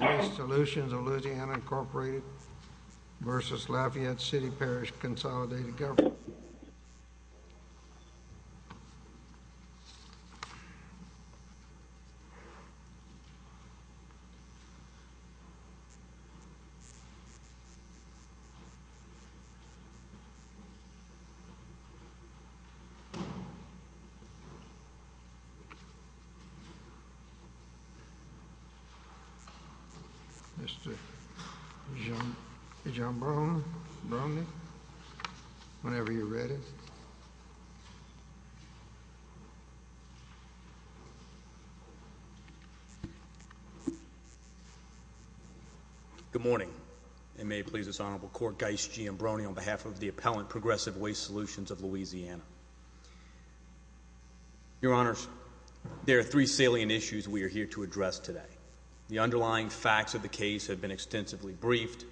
Wst Solutions of LA, Inc. v. Lafayette City-Parish Consolidated Government Mr. Gianbrone, whenever you're ready. Good morning, and may it please this Honorable Court, Guyce Gianbrone on behalf of the Appellant Progressive Waste Solutions of Louisiana. Your Honors, there are three salient issues we are here to address today. The underlying facts of the case have been extensively briefed,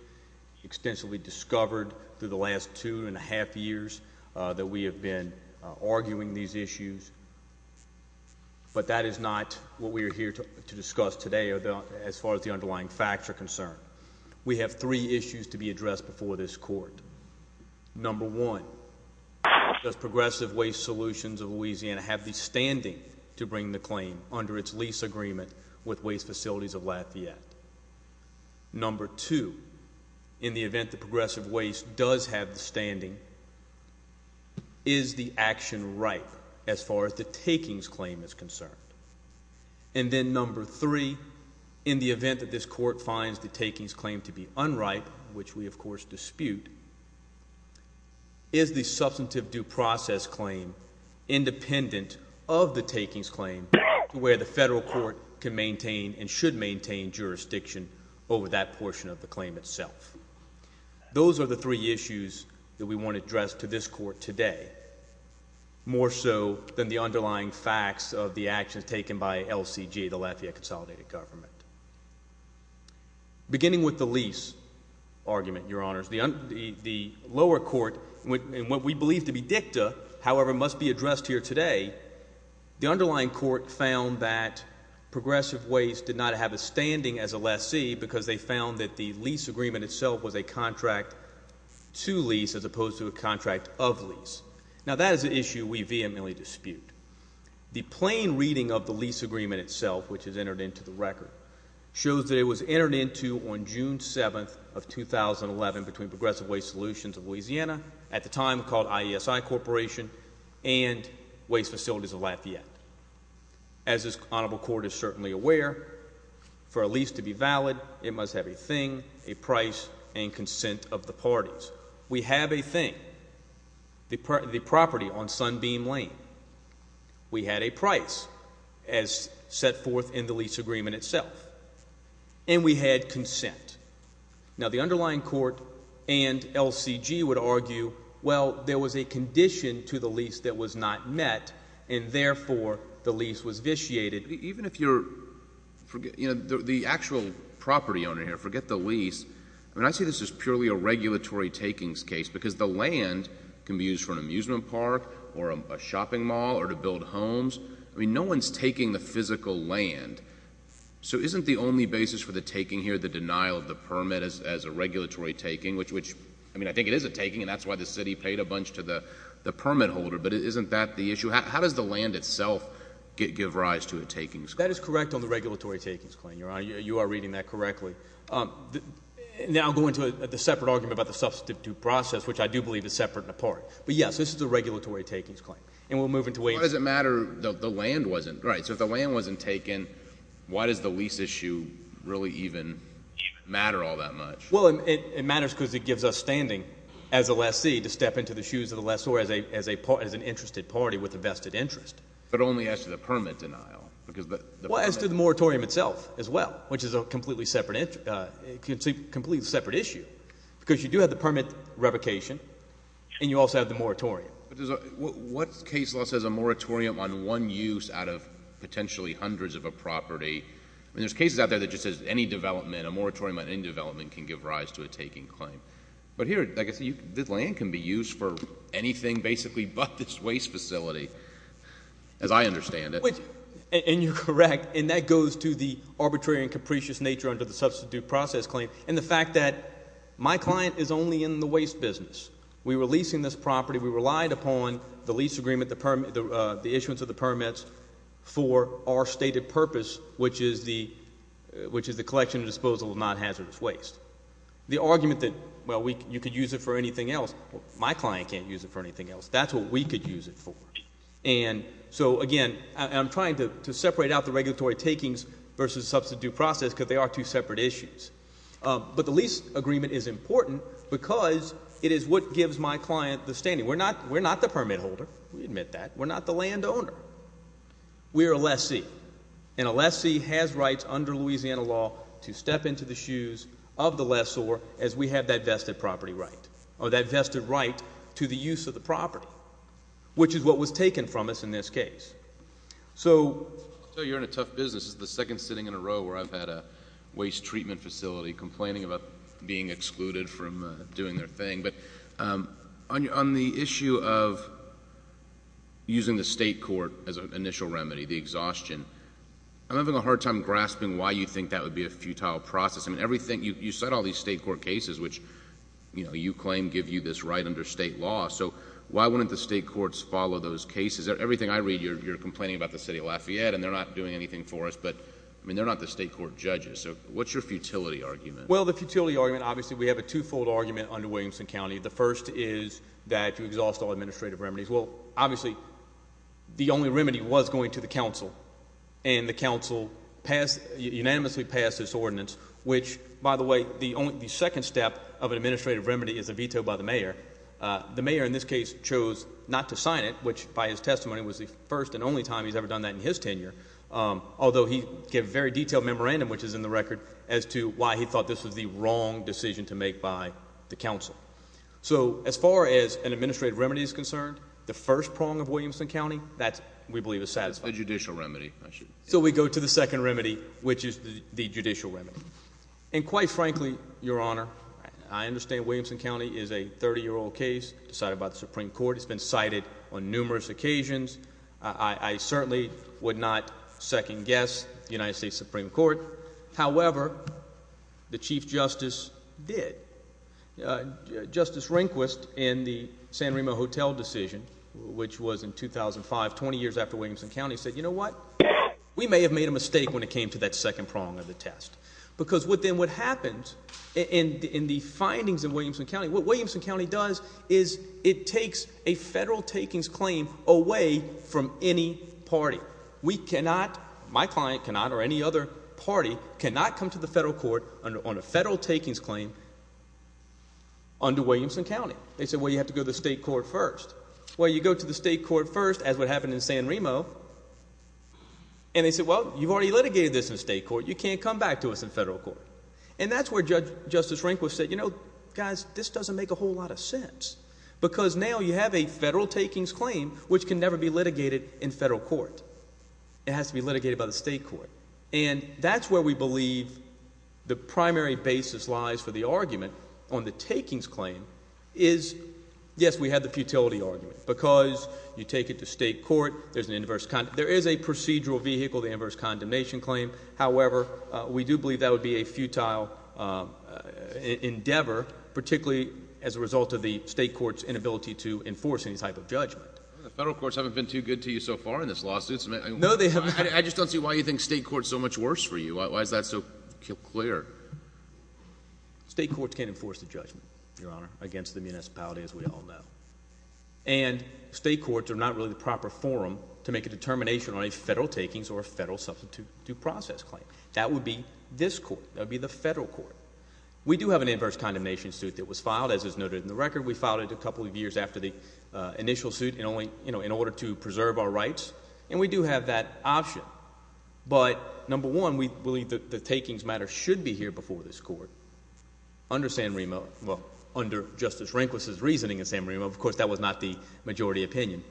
extensively discovered through the last two and a half years that we have been arguing these issues. But that is not what we are here to discuss today as far as the underlying facts are concerned. We have three issues to be addressed before this Court. Number one, does Progressive Waste Solutions of Louisiana have the standing to bring the claim under its lease agreement with Waste Facilities of Lafayette? Number two, in the event that Progressive Waste does have the standing, is the action ripe as far as the takings claim is concerned? And then number three, in the event that this Court finds the takings claim to be unripe, which we of course dispute, is the substantive due process claim independent of the takings claim to where the Federal Court can maintain and should maintain jurisdiction over that portion of the claim itself? Those are the three issues that we want to address to this Court today. More so than the underlying facts of the actions taken by LCG, the Lafayette Consolidated Government. Beginning with the lease argument, Your Honors, the lower court, in what we believe to be dicta, however, must be addressed here today, the underlying court found that Progressive Waste did not have a standing as a lessee because they found that the lease agreement itself was a contract to lease as opposed to a contract of lease. Now that is an issue we vehemently dispute. The plain reading of the lease agreement itself, which is entered into the record, shows that it was entered into on June 7th of 2011 between Progressive Waste Solutions of Louisiana, at the time called IESI Corporation, and Waste Facilities of Lafayette. As this honorable court is certainly aware, for a lease to be valid, it must have a thing, a price, and consent of the parties. We have a thing, the property on Sunbeam Lane. We had a price as set forth in the lease agreement itself, and we had consent. Now the underlying court and LCG would argue, well, there was a condition to the lease that was not met, and therefore the lease was vitiated. Even if you're, you know, the actual property owner here, forget the lease. I mean, I see this as purely a regulatory takings case because the land can be used for an amusement park or a shopping mall or to build homes. I mean, no one's taking the physical land. So isn't the only basis for the taking here the denial of the permit as a regulatory taking, which, I mean, I think it is a taking, and that's why the city paid a bunch to the permit holder, but isn't that the issue? How does the land itself give rise to a takings claim? That is correct on the regulatory takings claim, Your Honor. You are reading that correctly. Now I'll go into the separate argument about the substitute process, which I do believe is separate and apart. But, yes, this is a regulatory takings claim, and we'll move into a— Why does it matter that the land wasn't—right, so if the land wasn't taken, why does the lease issue really even matter all that much? Well, it matters because it gives us standing as a lessee to step into the shoes of the lessor as an interested party with a vested interest. But only as to the permit denial because the permit— Well, as to the moratorium itself as well, which is a completely separate issue because you do have the permit revocation, and you also have the moratorium. What case law says a moratorium on one use out of potentially hundreds of a property? I mean there's cases out there that just says any development, a moratorium on any development can give rise to a taking claim. But here, like I said, this land can be used for anything basically but this waste facility as I understand it. And you're correct, and that goes to the arbitrary and capricious nature under the substitute process claim and the fact that my client is only in the waste business. We were leasing this property. We relied upon the lease agreement, the issuance of the permits for our stated purpose, which is the collection and disposal of non-hazardous waste. The argument that, well, you could use it for anything else, well, my client can't use it for anything else. That's what we could use it for. And so, again, I'm trying to separate out the regulatory takings versus substitute process because they are two separate issues. But the lease agreement is important because it is what gives my client the standing. We're not the permit holder. We admit that. We're not the landowner. We are a lessee, and a lessee has rights under Louisiana law to step into the shoes of the lessor as we have that vested property right or that vested right to the use of the property, which is what was taken from us in this case. So I'll tell you you're in a tough business. This is the second sitting in a row where I've had a waste treatment facility complaining about being excluded from doing their thing. But on the issue of using the state court as an initial remedy, the exhaustion, I'm having a hard time grasping why you think that would be a futile process. I mean, you cite all these state court cases, which you claim give you this right under state law. So why wouldn't the state courts follow those cases? Everything I read, you're complaining about the city of Lafayette, and they're not doing anything for us. But, I mean, they're not the state court judges. So what's your futility argument? Well, the futility argument, obviously we have a twofold argument under Williamson County. The first is that you exhaust all administrative remedies. Well, obviously the only remedy was going to the council, and the council unanimously passed this ordinance, which, by the way, the second step of an administrative remedy is a veto by the mayor. The mayor, in this case, chose not to sign it, which, by his testimony, was the first and only time he's ever done that in his tenure, although he gave a very detailed memorandum, which is in the record, as to why he thought this was the wrong decision to make by the council. So as far as an administrative remedy is concerned, the first prong of Williamson County, that, we believe, is satisfied. The judicial remedy. So we go to the second remedy, which is the judicial remedy. And quite frankly, Your Honor, I understand Williamson County is a 30-year-old case decided by the Supreme Court. It's been cited on numerous occasions. I certainly would not second-guess the United States Supreme Court. However, the Chief Justice did. Justice Rehnquist, in the San Remo Hotel decision, which was in 2005, 20 years after Williamson County, said, you know what? We may have made a mistake when it came to that second prong of the test. Because then what happens in the findings in Williamson County, what Williamson County does is it takes a federal takings claim away from any party. We cannot, my client cannot or any other party, cannot come to the federal court on a federal takings claim under Williamson County. They said, well, you have to go to the state court first. Well, you go to the state court first, as what happened in San Remo, and they said, well, you've already litigated this in state court. You can't come back to us in federal court. And that's where Justice Rehnquist said, you know, guys, this doesn't make a whole lot of sense. Because now you have a federal takings claim, which can never be litigated in federal court. It has to be litigated by the state court. And that's where we believe the primary basis lies for the argument on the takings claim is, yes, we had the futility argument. Because you take it to state court, there's an inverse, there is a procedural vehicle, the inverse condemnation claim. However, we do believe that would be a futile endeavor, particularly as a result of the state court's inability to enforce any type of judgment. The federal courts haven't been too good to you so far in this lawsuit. No, they haven't. I just don't see why you think state court is so much worse for you. Why is that so clear? State courts can't enforce the judgment, Your Honor, against the municipality, as we all know. And state courts are not really the proper forum to make a determination on a federal takings or a federal substitute due process claim. That would be this court. That would be the federal court. We do have an inverse condemnation suit that was filed, as is noted in the record. We filed it a couple of years after the initial suit in order to preserve our rights. And we do have that option. But, number one, we believe that the takings matter should be here before this court under San Marino. Well, under Justice Rehnquist's reasoning in San Marino. Of course, that was not the majority opinion.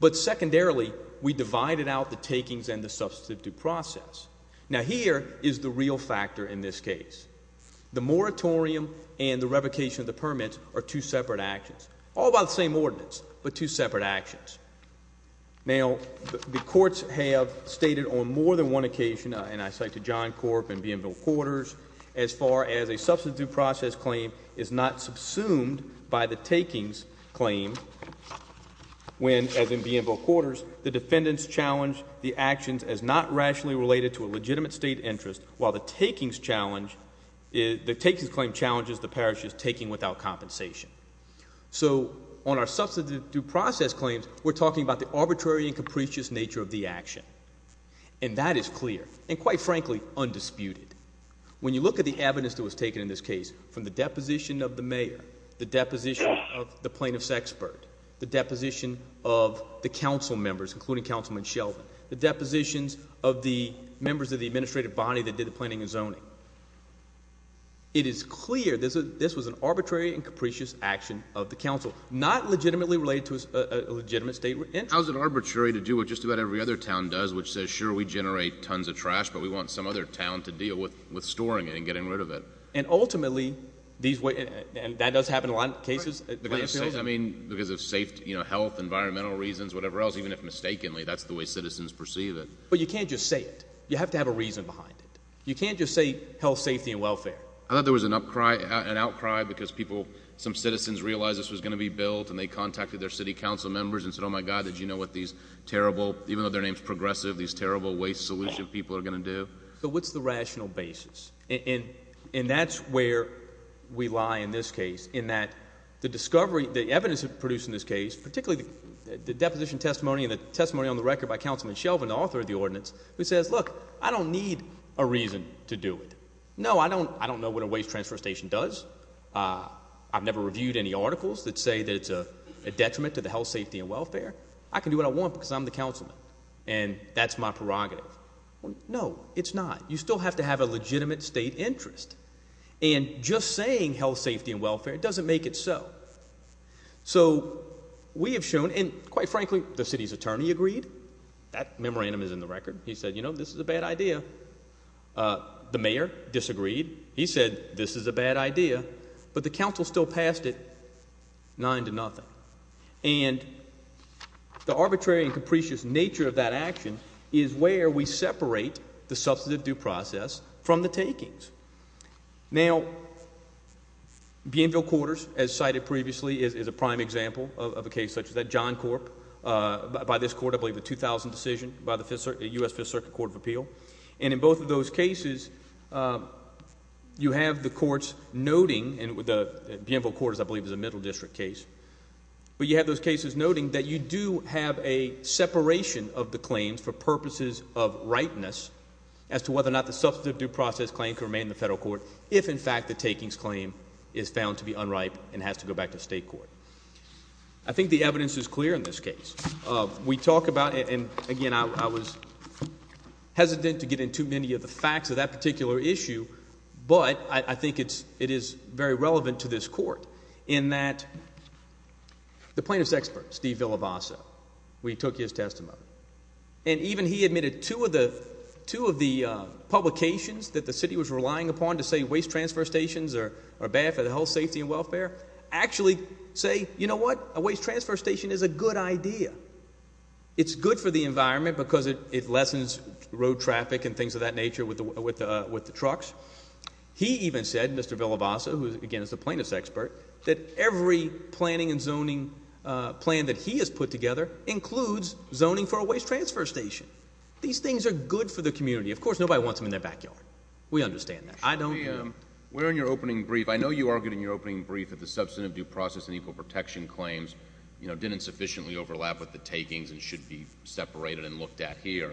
But secondarily, we divided out the takings and the substitute due process. Now, here is the real factor in this case. The moratorium and the revocation of the permit are two separate actions. All by the same ordinance, but two separate actions. Now, the courts have stated on more than one occasion, and I cite to John Corp and Bienville Quarters, as far as a substitute due process claim is not subsumed by the takings claim, when, as in Bienville Quarters, the defendants challenge the actions as not rationally related to a legitimate state interest, while the takings claim challenges the parish's taking without compensation. So, on our substitute due process claims, we're talking about the arbitrary and capricious nature of the action. And that is clear, and quite frankly, undisputed. When you look at the evidence that was taken in this case, from the deposition of the mayor, the deposition of the plaintiff's expert, the deposition of the council members, including Councilman Sheldon, the depositions of the members of the administrative body that did the planning and zoning, it is clear that this was an arbitrary and capricious action of the council, not legitimately related to a legitimate state interest. How is it arbitrary to do what just about every other town does, which says, sure, we generate tons of trash, but we want some other town to deal with storing it and getting rid of it? And ultimately, that does happen in a lot of cases. Because of health, environmental reasons, whatever else, even if mistakenly, that's the way citizens perceive it. But you can't just say it. You have to have a reason behind it. You can't just say health, safety, and welfare. I thought there was an outcry because some citizens realized this was going to be built, and they contacted their city council members and said, oh, my God, did you know what these terrible, even though their name is progressive, these terrible waste solution people are going to do? So what's the rational basis? And that's where we lie in this case, in that the discovery, the evidence produced in this case, particularly the deposition testimony and the testimony on the record by Councilman Shelvin, the author of the ordinance, who says, look, I don't need a reason to do it. No, I don't know what a waste transfer station does. I've never reviewed any articles that say that it's a detriment to the health, safety, and welfare. I can do what I want because I'm the councilman, and that's my prerogative. No, it's not. You still have to have a legitimate state interest. And just saying health, safety, and welfare doesn't make it so. So we have shown, and quite frankly, the city's attorney agreed. That memorandum is in the record. He said, you know, this is a bad idea. The mayor disagreed. He said this is a bad idea. But the council still passed it 9-0. And the arbitrary and capricious nature of that action is where we separate the substantive due process from the takings. Now, Bienville Quarters, as cited previously, is a prime example of a case such as that. John Corp, by this court, I believe a 2000 decision by the U.S. Fifth Circuit Court of Appeal. And in both of those cases, you have the courts noting, and Bienville Quarters I believe is a middle district case, but you have those cases noting that you do have a separation of the claims for purposes of rightness as to whether or not the substantive due process claim can remain in the federal court if, in fact, the takings claim is found to be unripe and has to go back to state court. I think the evidence is clear in this case. We talk about it, and again, I was hesitant to get into many of the facts of that particular issue, but I think it is very relevant to this court in that the plaintiff's expert, Steve Villavasa, we took his testimony. And even he admitted two of the publications that the city was relying upon to say waste transfer stations are bad for the health, safety, and welfare actually say, you know what, a waste transfer station is a good idea. It's good for the environment because it lessens road traffic and things of that nature with the trucks. He even said, Mr. Villavasa, who again is the plaintiff's expert, that every planning and zoning plan that he has put together includes zoning for a waste transfer station. These things are good for the community. Of course, nobody wants them in their backyard. We understand that. Where in your opening brief, I know you argued in your opening brief that the substantive due process and equal protection claims didn't sufficiently overlap with the takings and should be separated and looked at here.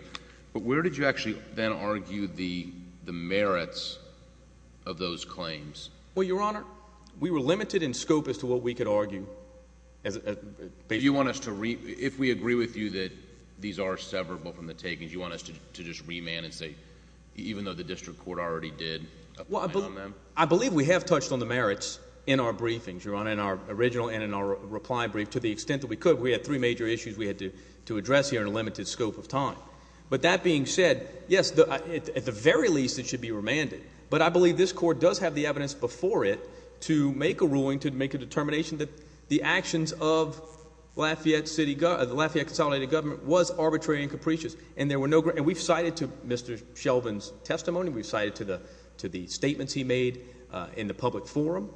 But where did you actually then argue the merits of those claims? Well, Your Honor, we were limited in scope as to what we could argue. If we agree with you that these are severable from the takings, you want us to just remand and say, even though the district court already did? I believe we have touched on the merits in our briefings, Your Honor, in our original and in our reply brief, to the extent that we could. We had three major issues we had to address here in a limited scope of time. But that being said, yes, at the very least it should be remanded. But I believe this court does have the evidence before it to make a ruling, to make a determination that the actions of the Lafayette Consolidated Government was arbitrary and capricious. And we've cited to Mr. Shelvin's testimony. We've cited to the statements he made in the public forum.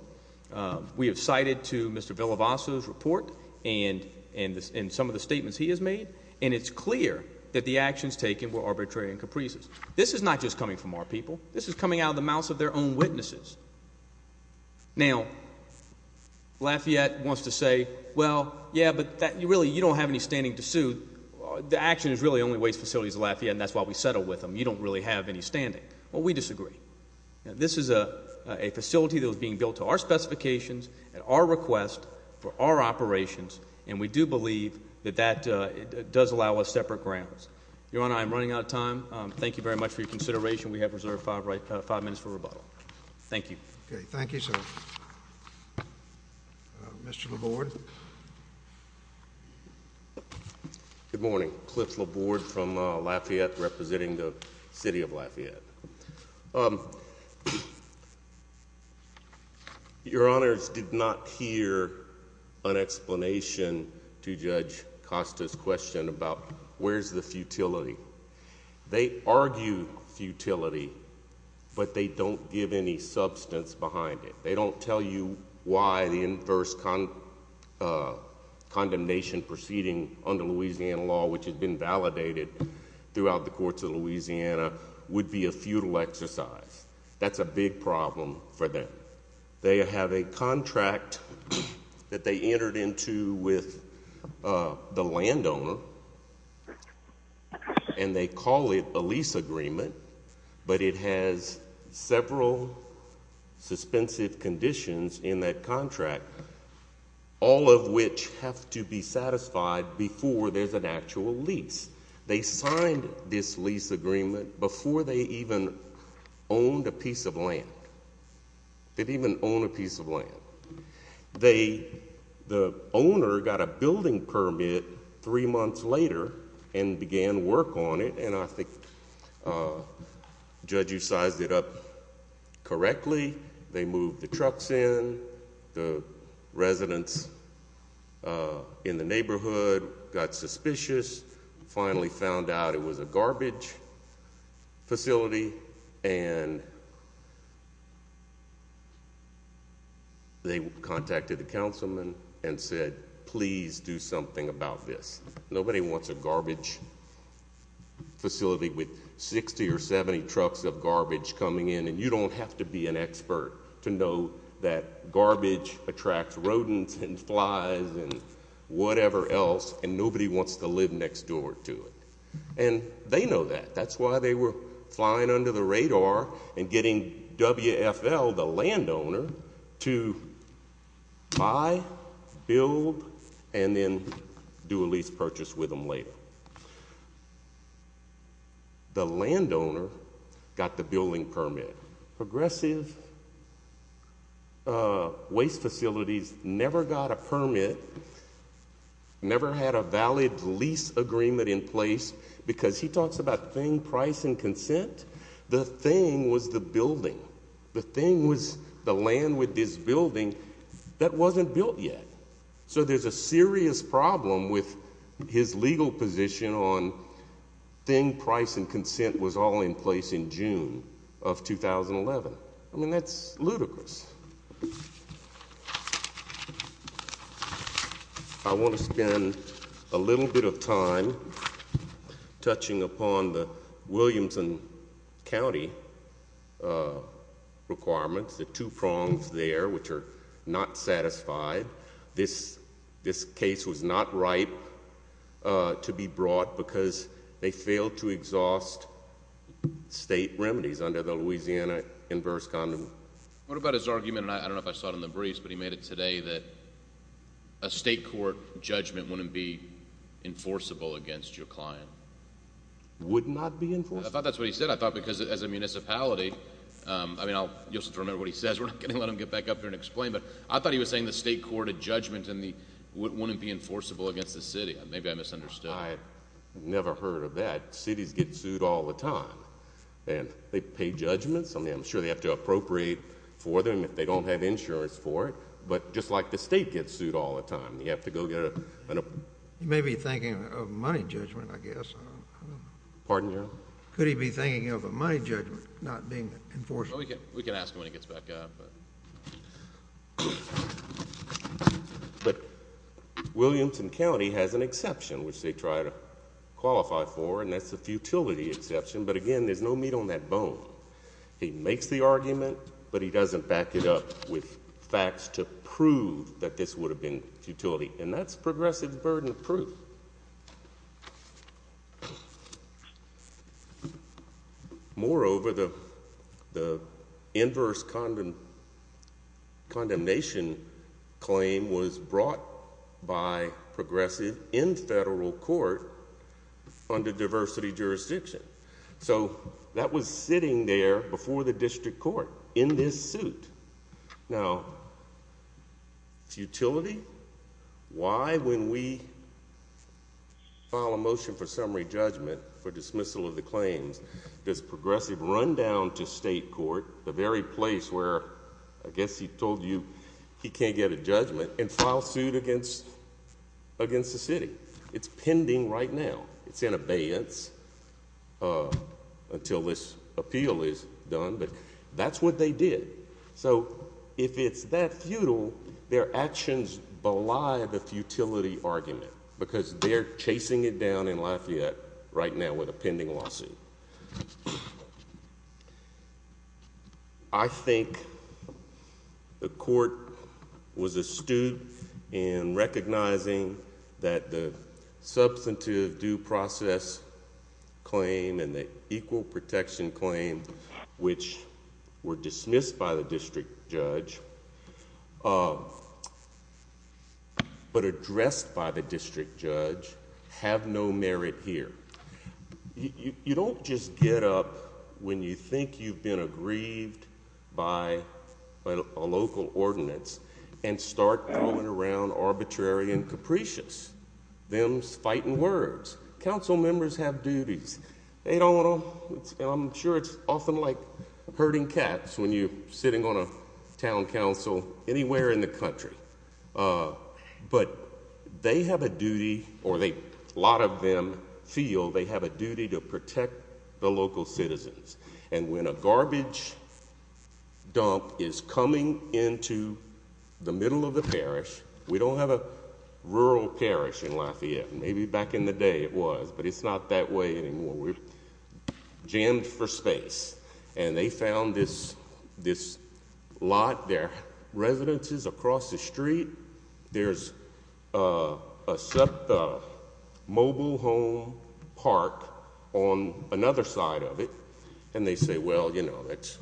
We have cited to Mr. Villalvaso's report and some of the statements he has made. And it's clear that the actions taken were arbitrary and capricious. This is not just coming from our people. This is coming out of the mouths of their own witnesses. Now, Lafayette wants to say, well, yeah, but really you don't have any standing to sue. The action is really only waste facilities of Lafayette, and that's why we settle with them. You don't really have any standing. Well, we disagree. This is a facility that was being built to our specifications and our request for our operations, and we do believe that that does allow us separate grounds. Your Honor, I am running out of time. Thank you very much for your consideration. We have reserved five minutes for rebuttal. Thank you. Okay, thank you, sir. Mr. Laborde. Good morning. Cliff Laborde from Lafayette, representing the city of Lafayette. Your Honors, did not hear an explanation to Judge Costa's question about where's the futility. They argue futility, but they don't give any substance behind it. They don't tell you why the inverse condemnation proceeding under Louisiana law, which has been validated throughout the courts of Louisiana, would be a futile exercise. That's a big problem for them. They have a contract that they entered into with the landowner, and they call it a lease agreement, but it has several suspensive conditions in that contract, all of which have to be satisfied before there's an actual lease. They signed this lease agreement before they even owned a piece of land. They didn't even own a piece of land. The owner got a building permit three months later and began work on it, and I think, Judge, you sized it up correctly. They moved the trucks in. The residents in the neighborhood got suspicious, finally found out it was a garbage facility, and they contacted the councilman and said, please do something about this. Nobody wants a garbage facility with 60 or 70 trucks of garbage coming in, and you don't have to be an expert to know that garbage attracts rodents and flies and whatever else, and nobody wants to live next door to it, and they know that. That's why they were flying under the radar and getting WFL, the landowner, to buy, build, and then do a lease purchase with them later. The landowner got the building permit. Progressive Waste Facilities never got a permit, never had a valid lease agreement in place, because he talks about thing, price, and consent. The thing was the building. The thing was the land with this building that wasn't built yet, so there's a serious problem with his legal position on thing, price, and consent was all in place in June of 2011. I mean, that's ludicrous. I want to spend a little bit of time touching upon the Williamson County requirements, the two prongs there, which are not satisfied. This case was not ripe to be brought because they failed to exhaust state remedies under the Louisiana inverse condom. What about his argument, and I don't know if I saw it in the briefs, but he made it today that a state court judgment wouldn't be enforceable against your client. Would not be enforceable. I thought that's what he said. I thought because as a municipality, I mean, you'll have to remember what he says. We're not going to let him get back up here and explain, but I thought he was saying the state court judgment wouldn't be enforceable against the city. Maybe I misunderstood. I never heard of that. Cities get sued all the time, and they pay judgments. I'm sure they have to appropriate for them if they don't have insurance for it, but just like the state gets sued all the time, you have to go get a... He may be thinking of money judgment, I guess. Pardon, Your Honor? Could he be thinking of a money judgment not being enforceable? We can ask him when he gets back up. But Williamson County has an exception, which they try to qualify for, and that's a futility exception, but, again, there's no meat on that bone. He makes the argument, but he doesn't back it up with facts to prove that this would have been futility, and that's progressive burden of proof. Moreover, the inverse condemnation claim was brought by progressive in federal court under diversity jurisdiction. So that was sitting there before the district court in this suit. Now, futility? Why, when we file a motion for summary judgment for dismissal of the claims, does progressive run down to state court, the very place where, I guess he told you he can't get a judgment, and file suit against the city? It's pending right now. It's in abeyance until this appeal is done, but that's what they did. So if it's that futile, their actions belie the futility argument because they're chasing it down in Lafayette right now with a pending lawsuit. I think the court was astute in recognizing that the substantive due process claim and the equal protection claim, which were dismissed by the district judge, but addressed by the district judge, have no merit here. You don't just get up when you think you've been aggrieved by a local ordinance and start going around arbitrary and capricious, them fighting words. Council members have duties. I'm sure it's often like herding cats when you're sitting on a town council anywhere in the country. But they have a duty, or a lot of them feel they have a duty to protect the local citizens. And when a garbage dump is coming into the middle of the parish, we don't have a rural parish in Lafayette. Maybe back in the day it was, but it's not that way anymore. We're jammed for space. And they found this lot, there are residences across the street, there's a mobile home park on another side of it, and they say, well, you know, that's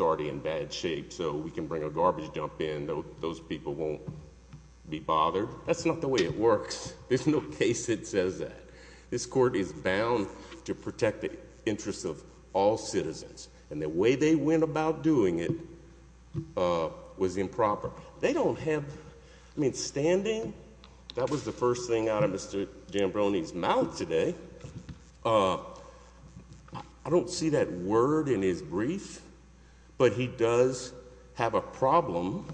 already in bad shape, so we can bring a garbage dump in. Those people won't be bothered. That's not the way it works. There's no case that says that. This court is bound to protect the interests of all citizens. And the way they went about doing it was improper. They don't have, I mean, standing, that was the first thing out of Mr. Jambroni's mouth today. I don't see that word in his brief, but he does have a problem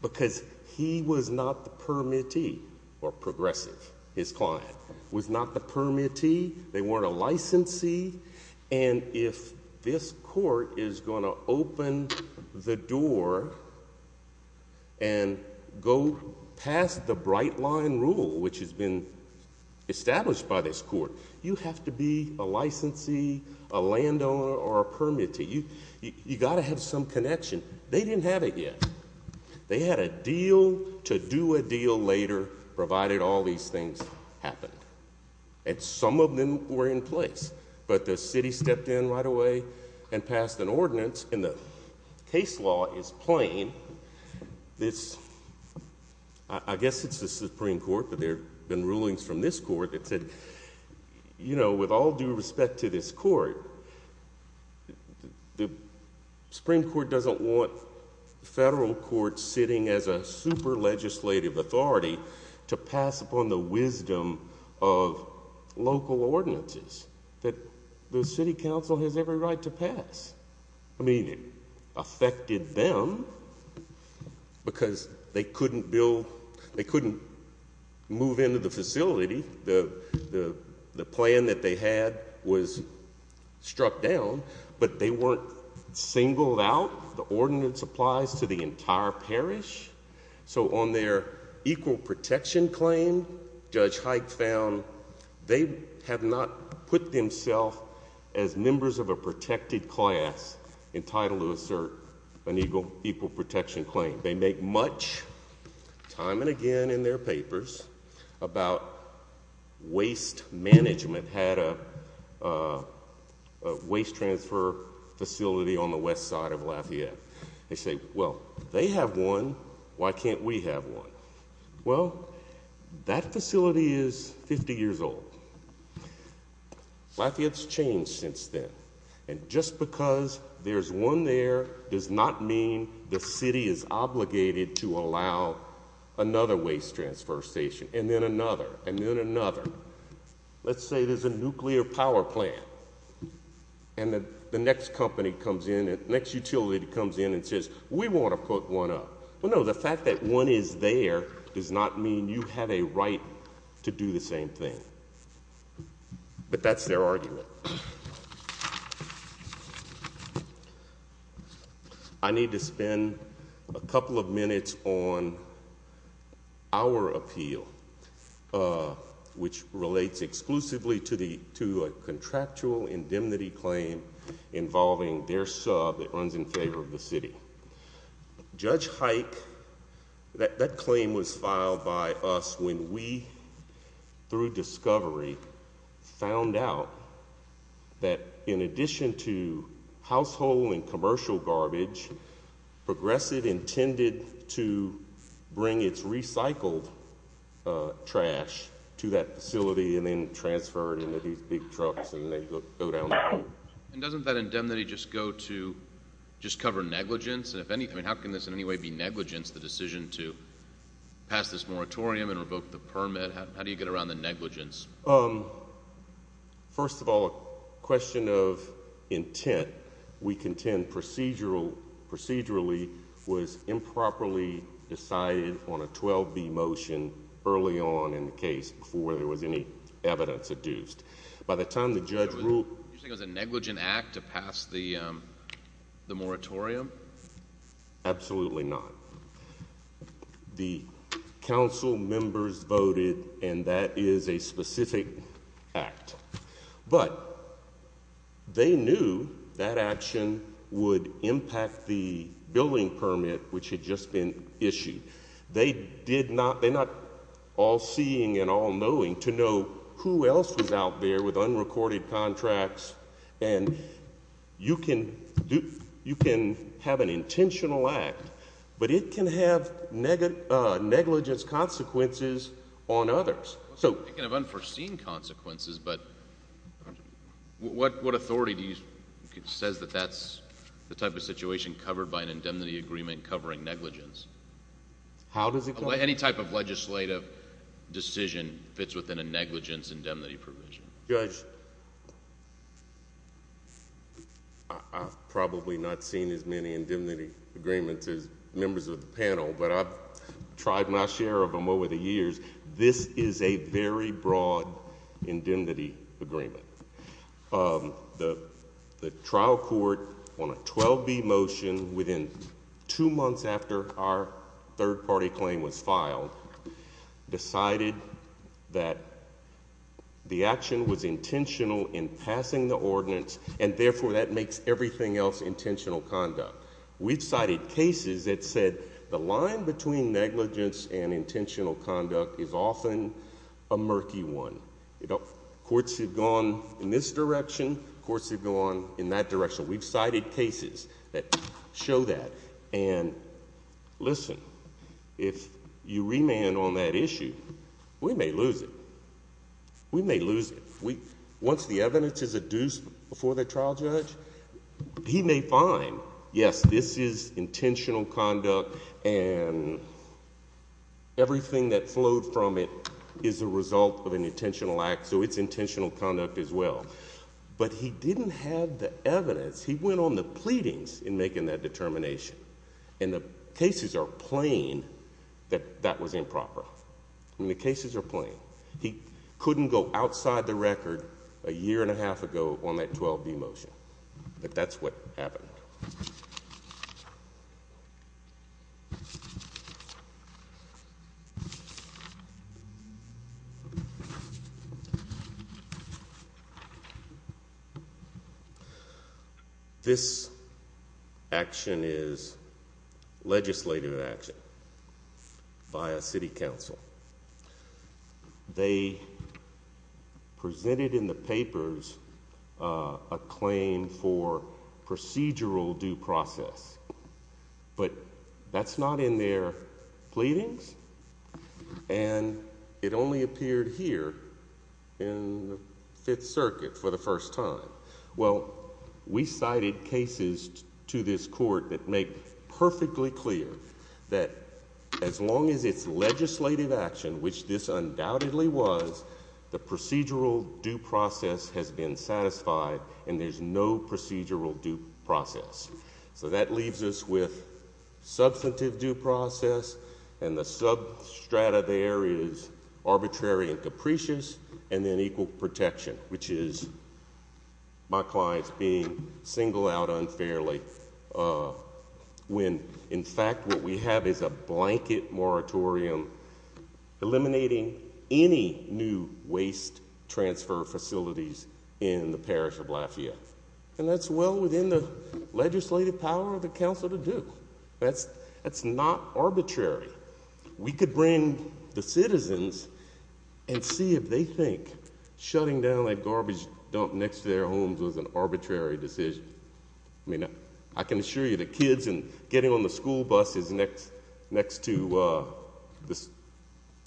because he was not the permittee, or progressive, his client, was not the permittee, they weren't a licensee, and if this court is going to open the door and go past the bright line rule, which has been established by this court, you have to be a licensee, a landowner, or a permittee. You've got to have some connection. They didn't have it yet. They had a deal to do a deal later, provided all these things happened. And some of them were in place, but the city stepped in right away and passed an ordinance, and the case law is plain. I guess it's the Supreme Court, but there have been rulings from this court that said, you know, with all due respect to this court, the Supreme Court doesn't want federal courts sitting as a super legislative authority to pass upon the wisdom of local ordinances that the city council has every right to pass. I mean, it affected them because they couldn't move into the facility, the plan that they had was struck down, but they weren't singled out. The ordinance applies to the entire parish. So on their equal protection claim, Judge Hike found they have not put themselves as members of a protected class entitled to assert an equal protection claim. They make much time and again in their papers about waste management had a waste transfer facility on the west side of Lafayette. They say, well, they have one. Why can't we have one? Well, that facility is 50 years old. Lafayette's changed since then. And just because there's one there does not mean the city is obligated to allow another waste transfer station and then another and then another. Let's say there's a nuclear power plant, and the next utility comes in and says, we want to put one up. Well, no, the fact that one is there does not mean you have a right to do the same thing. But that's their argument. I need to spend a couple of minutes on our appeal, which relates exclusively to a contractual indemnity claim involving their sub that runs in favor of the city. Judge Hike, that claim was filed by us when we, through discovery, found out that in addition to household and commercial garbage, Progressive intended to bring its recycled trash to that facility and then transfer it into these big trucks and then go down the road. And doesn't that indemnity just go to just cover negligence? I mean, how can this in any way be negligence, the decision to pass this moratorium and revoke the permit? How do you get around the negligence? First of all, a question of intent. We contend procedurally was improperly decided on a 12B motion early on in the case before there was any evidence adduced. By the time the judge ruled. You think it was a negligent act to pass the moratorium? Absolutely not. The council members voted, and that is a specific act. But they knew that action would impact the billing permit, which had just been issued. They're not all seeing and all knowing to know who else was out there with unrecorded contracts. And you can have an intentional act, but it can have negligence consequences on others. It can have unforeseen consequences, but what authority says that that's the type of situation covered by an indemnity agreement covering negligence? How does it go? Any type of legislative decision fits within a negligence indemnity provision. Judge, I've probably not seen as many indemnity agreements as members of the panel, but I've tried my share of them over the years. This is a very broad indemnity agreement. The trial court on a 12B motion within two months after our third-party claim was filed decided that the action was intentional in passing the ordinance, and therefore that makes everything else intentional conduct. We've cited cases that said the line between negligence and intentional conduct is often a murky one. Courts have gone in this direction. Courts have gone in that direction. We've cited cases that show that. And listen, if you remand on that issue, we may lose it. We may lose it. Once the evidence is adduced before the trial judge, he may find, yes, this is intentional conduct, and everything that flowed from it is a result of an intentional act, so it's intentional conduct as well. But he didn't have the evidence. He went on the pleadings in making that determination. And the cases are plain that that was improper. I mean, the cases are plain. He couldn't go outside the record a year and a half ago on that 12B motion. But that's what happened. This action is legislative action by a city council. They presented in the papers a claim for procedural due process. But that's not in their pleadings, and it only appeared here in the Fifth Circuit for the first time. Well, we cited cases to this court that make perfectly clear that as long as it's legislative action, which this undoubtedly was, the procedural due process has been satisfied, and there's no procedural due process. So that leaves us with substantive due process, and the substrata there is arbitrary and capricious, and then equal protection, which is my clients being singled out unfairly when, in fact, what we have is a blanket moratorium eliminating any new waste transfer facilities in the parish of Lafayette. And that's well within the legislative power of the council to do. That's not arbitrary. We could bring the citizens and see if they think shutting down that garbage dump next to their homes was an arbitrary decision. I mean, I can assure you the kids in getting on the school buses next to this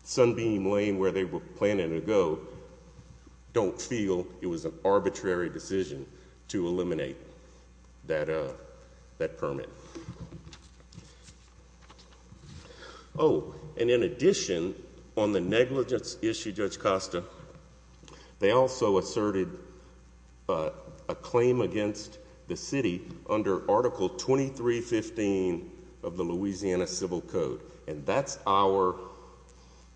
Sunbeam Lane where they were planning to go don't feel it was an arbitrary decision to eliminate that permit. Oh, and in addition, on the negligence issue, Judge Costa, they also asserted a claim against the city under Article 2315 of the Louisiana Civil Code. And that's our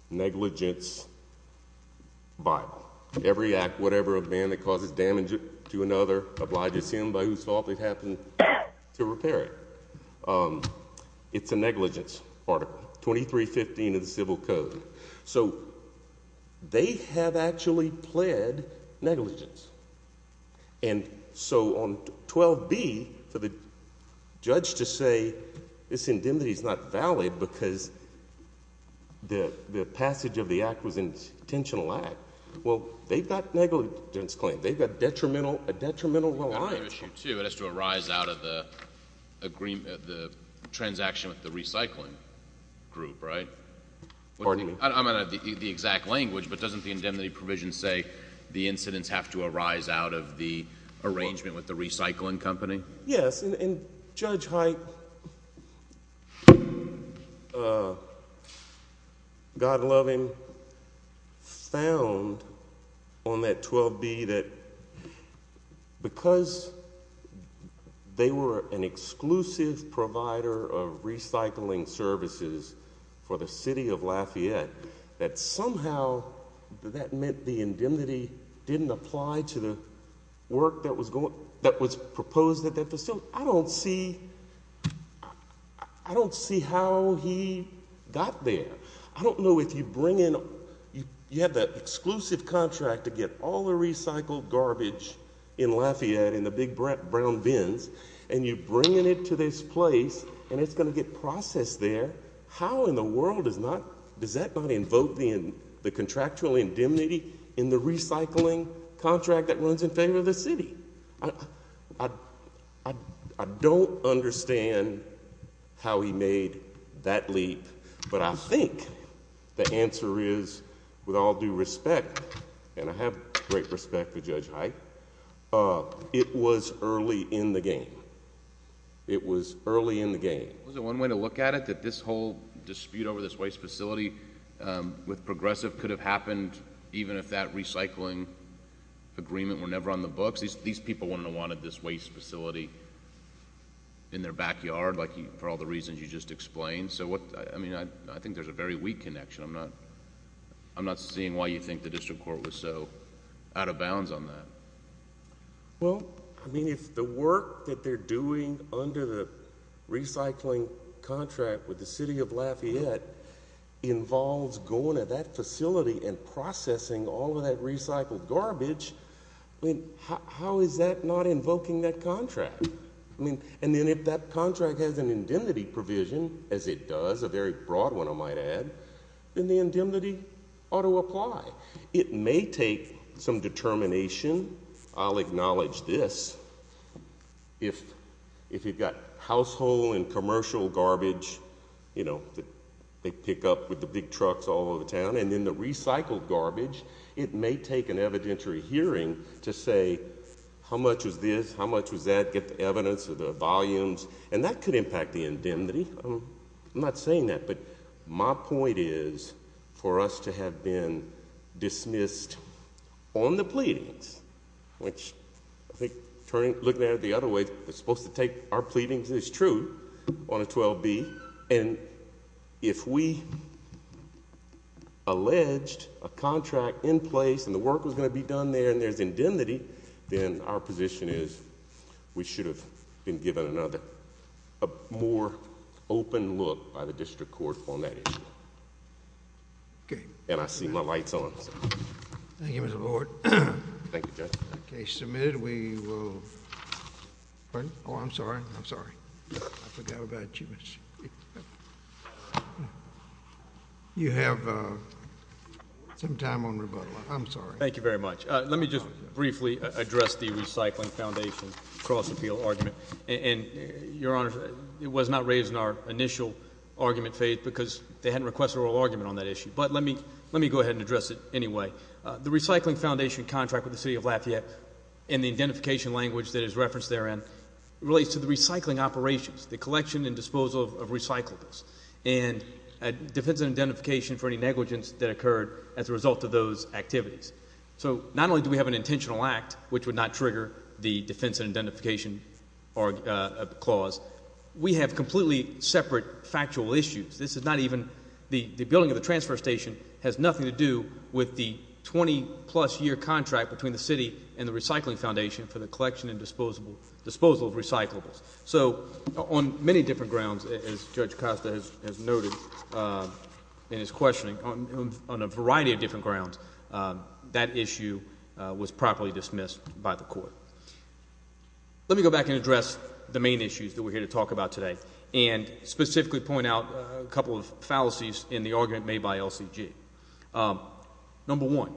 negligence Bible. Every act, whatever, of man that causes damage to another obliges him by whose fault it happened to repair it. It's a negligence article, 2315 of the Civil Code. So they have actually pled negligence. And so on 12B, for the judge to say this indemnity is not valid because the passage of the act was an intentional act, well, they've got negligence claims. They've got a detrimental reliance. It has to arise out of the transaction with the recycling group, right? Pardon me? I don't have the exact language, but doesn't the indemnity provision say the incidents have to arise out of the arrangement with the recycling company? Yes. And Judge Hite, God love him, found on that 12B that because they were an exclusive provider of recycling services for the city of Lafayette, that somehow that meant the indemnity didn't apply to the work that was proposed at that facility. I don't see how he got there. I don't know if you bring in—you have that exclusive contract to get all the recycled garbage in Lafayette in the big brown bins, and you bring it into this place, and it's going to get processed there. How in the world does that not invoke the contractual indemnity in the recycling contract that runs in favor of the city? I don't understand how he made that leap, but I think the answer is, with all due respect, and I have great respect for Judge Hite, it was early in the game. It was early in the game. Wasn't one way to look at it that this whole dispute over this waste facility with Progressive could have happened even if that recycling agreement were never on the books? These people wouldn't have wanted this waste facility in their backyard for all the reasons you just explained. I think there's a very weak connection. I'm not seeing why you think the district court was so out of bounds on that. Well, I mean, if the work that they're doing under the recycling contract with the city of Lafayette involves going to that facility and processing all of that recycled garbage, I mean, how is that not invoking that contract? I mean, and then if that contract has an indemnity provision, as it does, a very broad one, I might add, then the indemnity ought to apply. It may take some determination. I'll acknowledge this. If you've got household and commercial garbage, you know, that they pick up with the big trucks all over the town, and then the recycled garbage, it may take an evidentiary hearing to say, how much was this, how much was that, get the evidence or the volumes, and that could impact the indemnity. I'm not saying that, but my point is for us to have been dismissed on the pleadings, which I think looking at it the other way, it's supposed to take our pleadings as true on a 12B, and if we alleged a contract in place, and the work was going to be done there, and there's indemnity, then our position is we should have been given another, a more open look by the district court on that issue. Okay. And I see my light's on. Thank you, Mr. Lord. Thank you, Judge. Okay. Submitted, we will. Pardon? Oh, I'm sorry. I'm sorry. I forgot about you. You have some time on rebuttal. I'm sorry. Thank you very much. Let me just briefly address the Recycling Foundation cross-appeal argument. And, Your Honor, it was not raised in our initial argument phase because they hadn't requested oral argument on that issue. But let me go ahead and address it anyway. The Recycling Foundation contract with the City of Lafayette and the identification language that is referenced therein relates to the recycling operations, the collection and disposal of recyclables, and defense and identification for any negligence that occurred as a result of those activities. So not only do we have an intentional act, which would not trigger the defense and identification clause, we have completely separate factual issues. This is not even the building of the transfer station has nothing to do with the 20-plus year contract between the city and the Recycling Foundation for the collection and disposal of recyclables. So on many different grounds, as Judge Costa has noted in his questioning, on a variety of different grounds, that issue was properly dismissed by the court. Let me go back and address the main issues that we're here to talk about today and specifically point out a couple of fallacies in the argument made by LCG. Number one,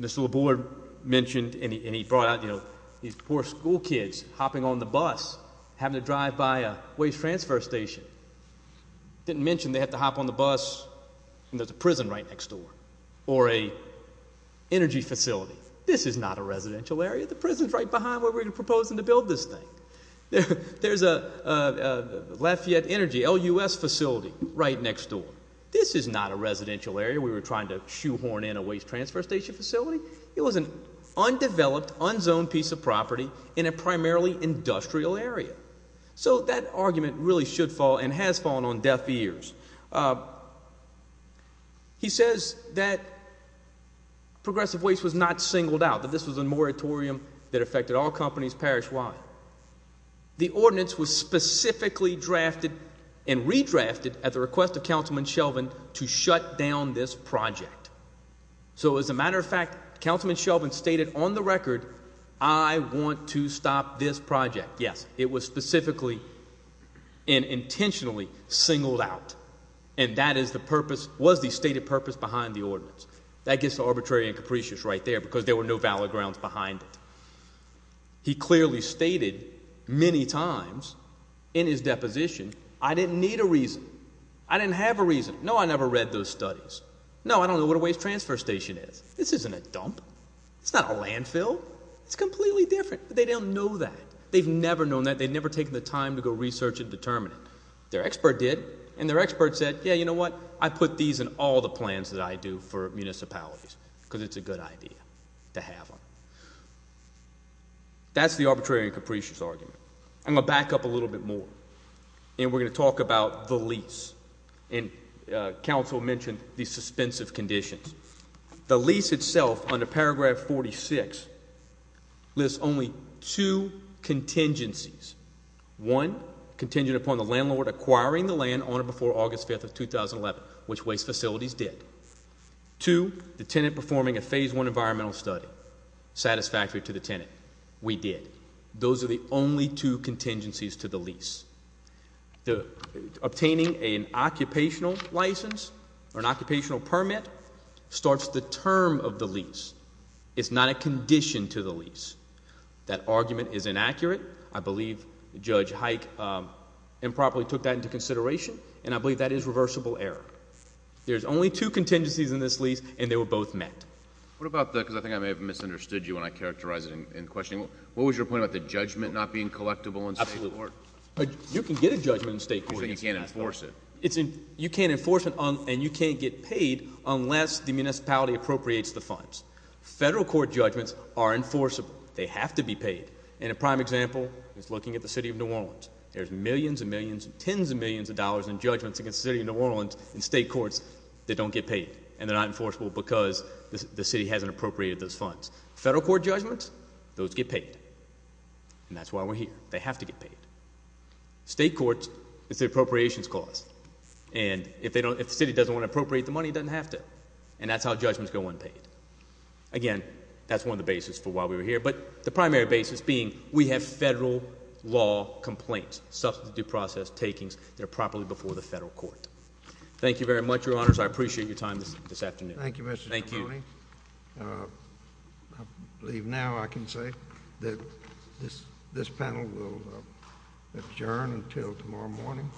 Mr. LaBoer mentioned and he brought out, you know, these poor school kids hopping on the bus having to drive by a waste transfer station. Didn't mention they have to hop on the bus and there's a prison right next door or an energy facility. This is not a residential area. The prison's right behind where we're proposing to build this thing. There's a Lafayette Energy LUS facility right next door. This is not a residential area. We were trying to shoehorn in a waste transfer station facility. It was an undeveloped, unzoned piece of property in a primarily industrial area. So that argument really should fall and has fallen on deaf ears. He says that progressive waste was not singled out, that this was a moratorium that affected all companies parish-wide. The ordinance was specifically drafted and redrafted at the request of Councilman Shelvin to shut down this project. So as a matter of fact, Councilman Shelvin stated on the record, I want to stop this project. Yes, it was specifically and intentionally singled out and that is the purpose, was the stated purpose behind the ordinance. That gets arbitrary and capricious right there because there were no valid grounds behind it. He clearly stated many times in his deposition, I didn't need a reason. I didn't have a reason. No, I never read those studies. No, I don't know what a waste transfer station is. This isn't a dump. It's not a landfill. It's completely different. They don't know that. They've never known that. They've never taken the time to go research and determine it. Their expert did, and their expert said, yeah, you know what? I put these in all the plans that I do for municipalities because it's a good idea to have them. That's the arbitrary and capricious argument. I'm going to back up a little bit more, and we're going to talk about the lease. And Council mentioned these suspensive conditions. The lease itself under paragraph 46 lists only two contingencies. One, contingent upon the landlord acquiring the land on or before August 5th of 2011, which waste facilities did. Two, the tenant performing a phase one environmental study satisfactory to the tenant. We did. Those are the only two contingencies to the lease. Obtaining an occupational license or an occupational permit starts the term of the lease. It's not a condition to the lease. That argument is inaccurate. I believe Judge Hike improperly took that into consideration, and I believe that is reversible error. There's only two contingencies in this lease, and they were both met. What about the – because I think I may have misunderstood you when I characterized it in questioning. What was your point about the judgment not being collectible in state court? Absolutely. You can get a judgment in state court. But you can't enforce it. You can't enforce it, and you can't get paid unless the municipality appropriates the funds. Federal court judgments are enforceable. They have to be paid. And a prime example is looking at the city of New Orleans. There's millions and millions and tens of millions of dollars in judgments against the city of New Orleans in state courts that don't get paid. And they're not enforceable because the city hasn't appropriated those funds. Federal court judgments, those get paid. And that's why we're here. They have to get paid. State courts, it's the appropriations clause. And if the city doesn't want to appropriate the money, it doesn't have to. And that's how judgments go unpaid. Again, that's one of the basis for why we were here. But the primary basis being we have federal law complaints, substantive due process takings that are properly before the federal court. Thank you very much, Your Honors. I appreciate your time this afternoon. Thank you, Mr. Cipollone. I believe now I can say that this panel will adjourn until tomorrow morning.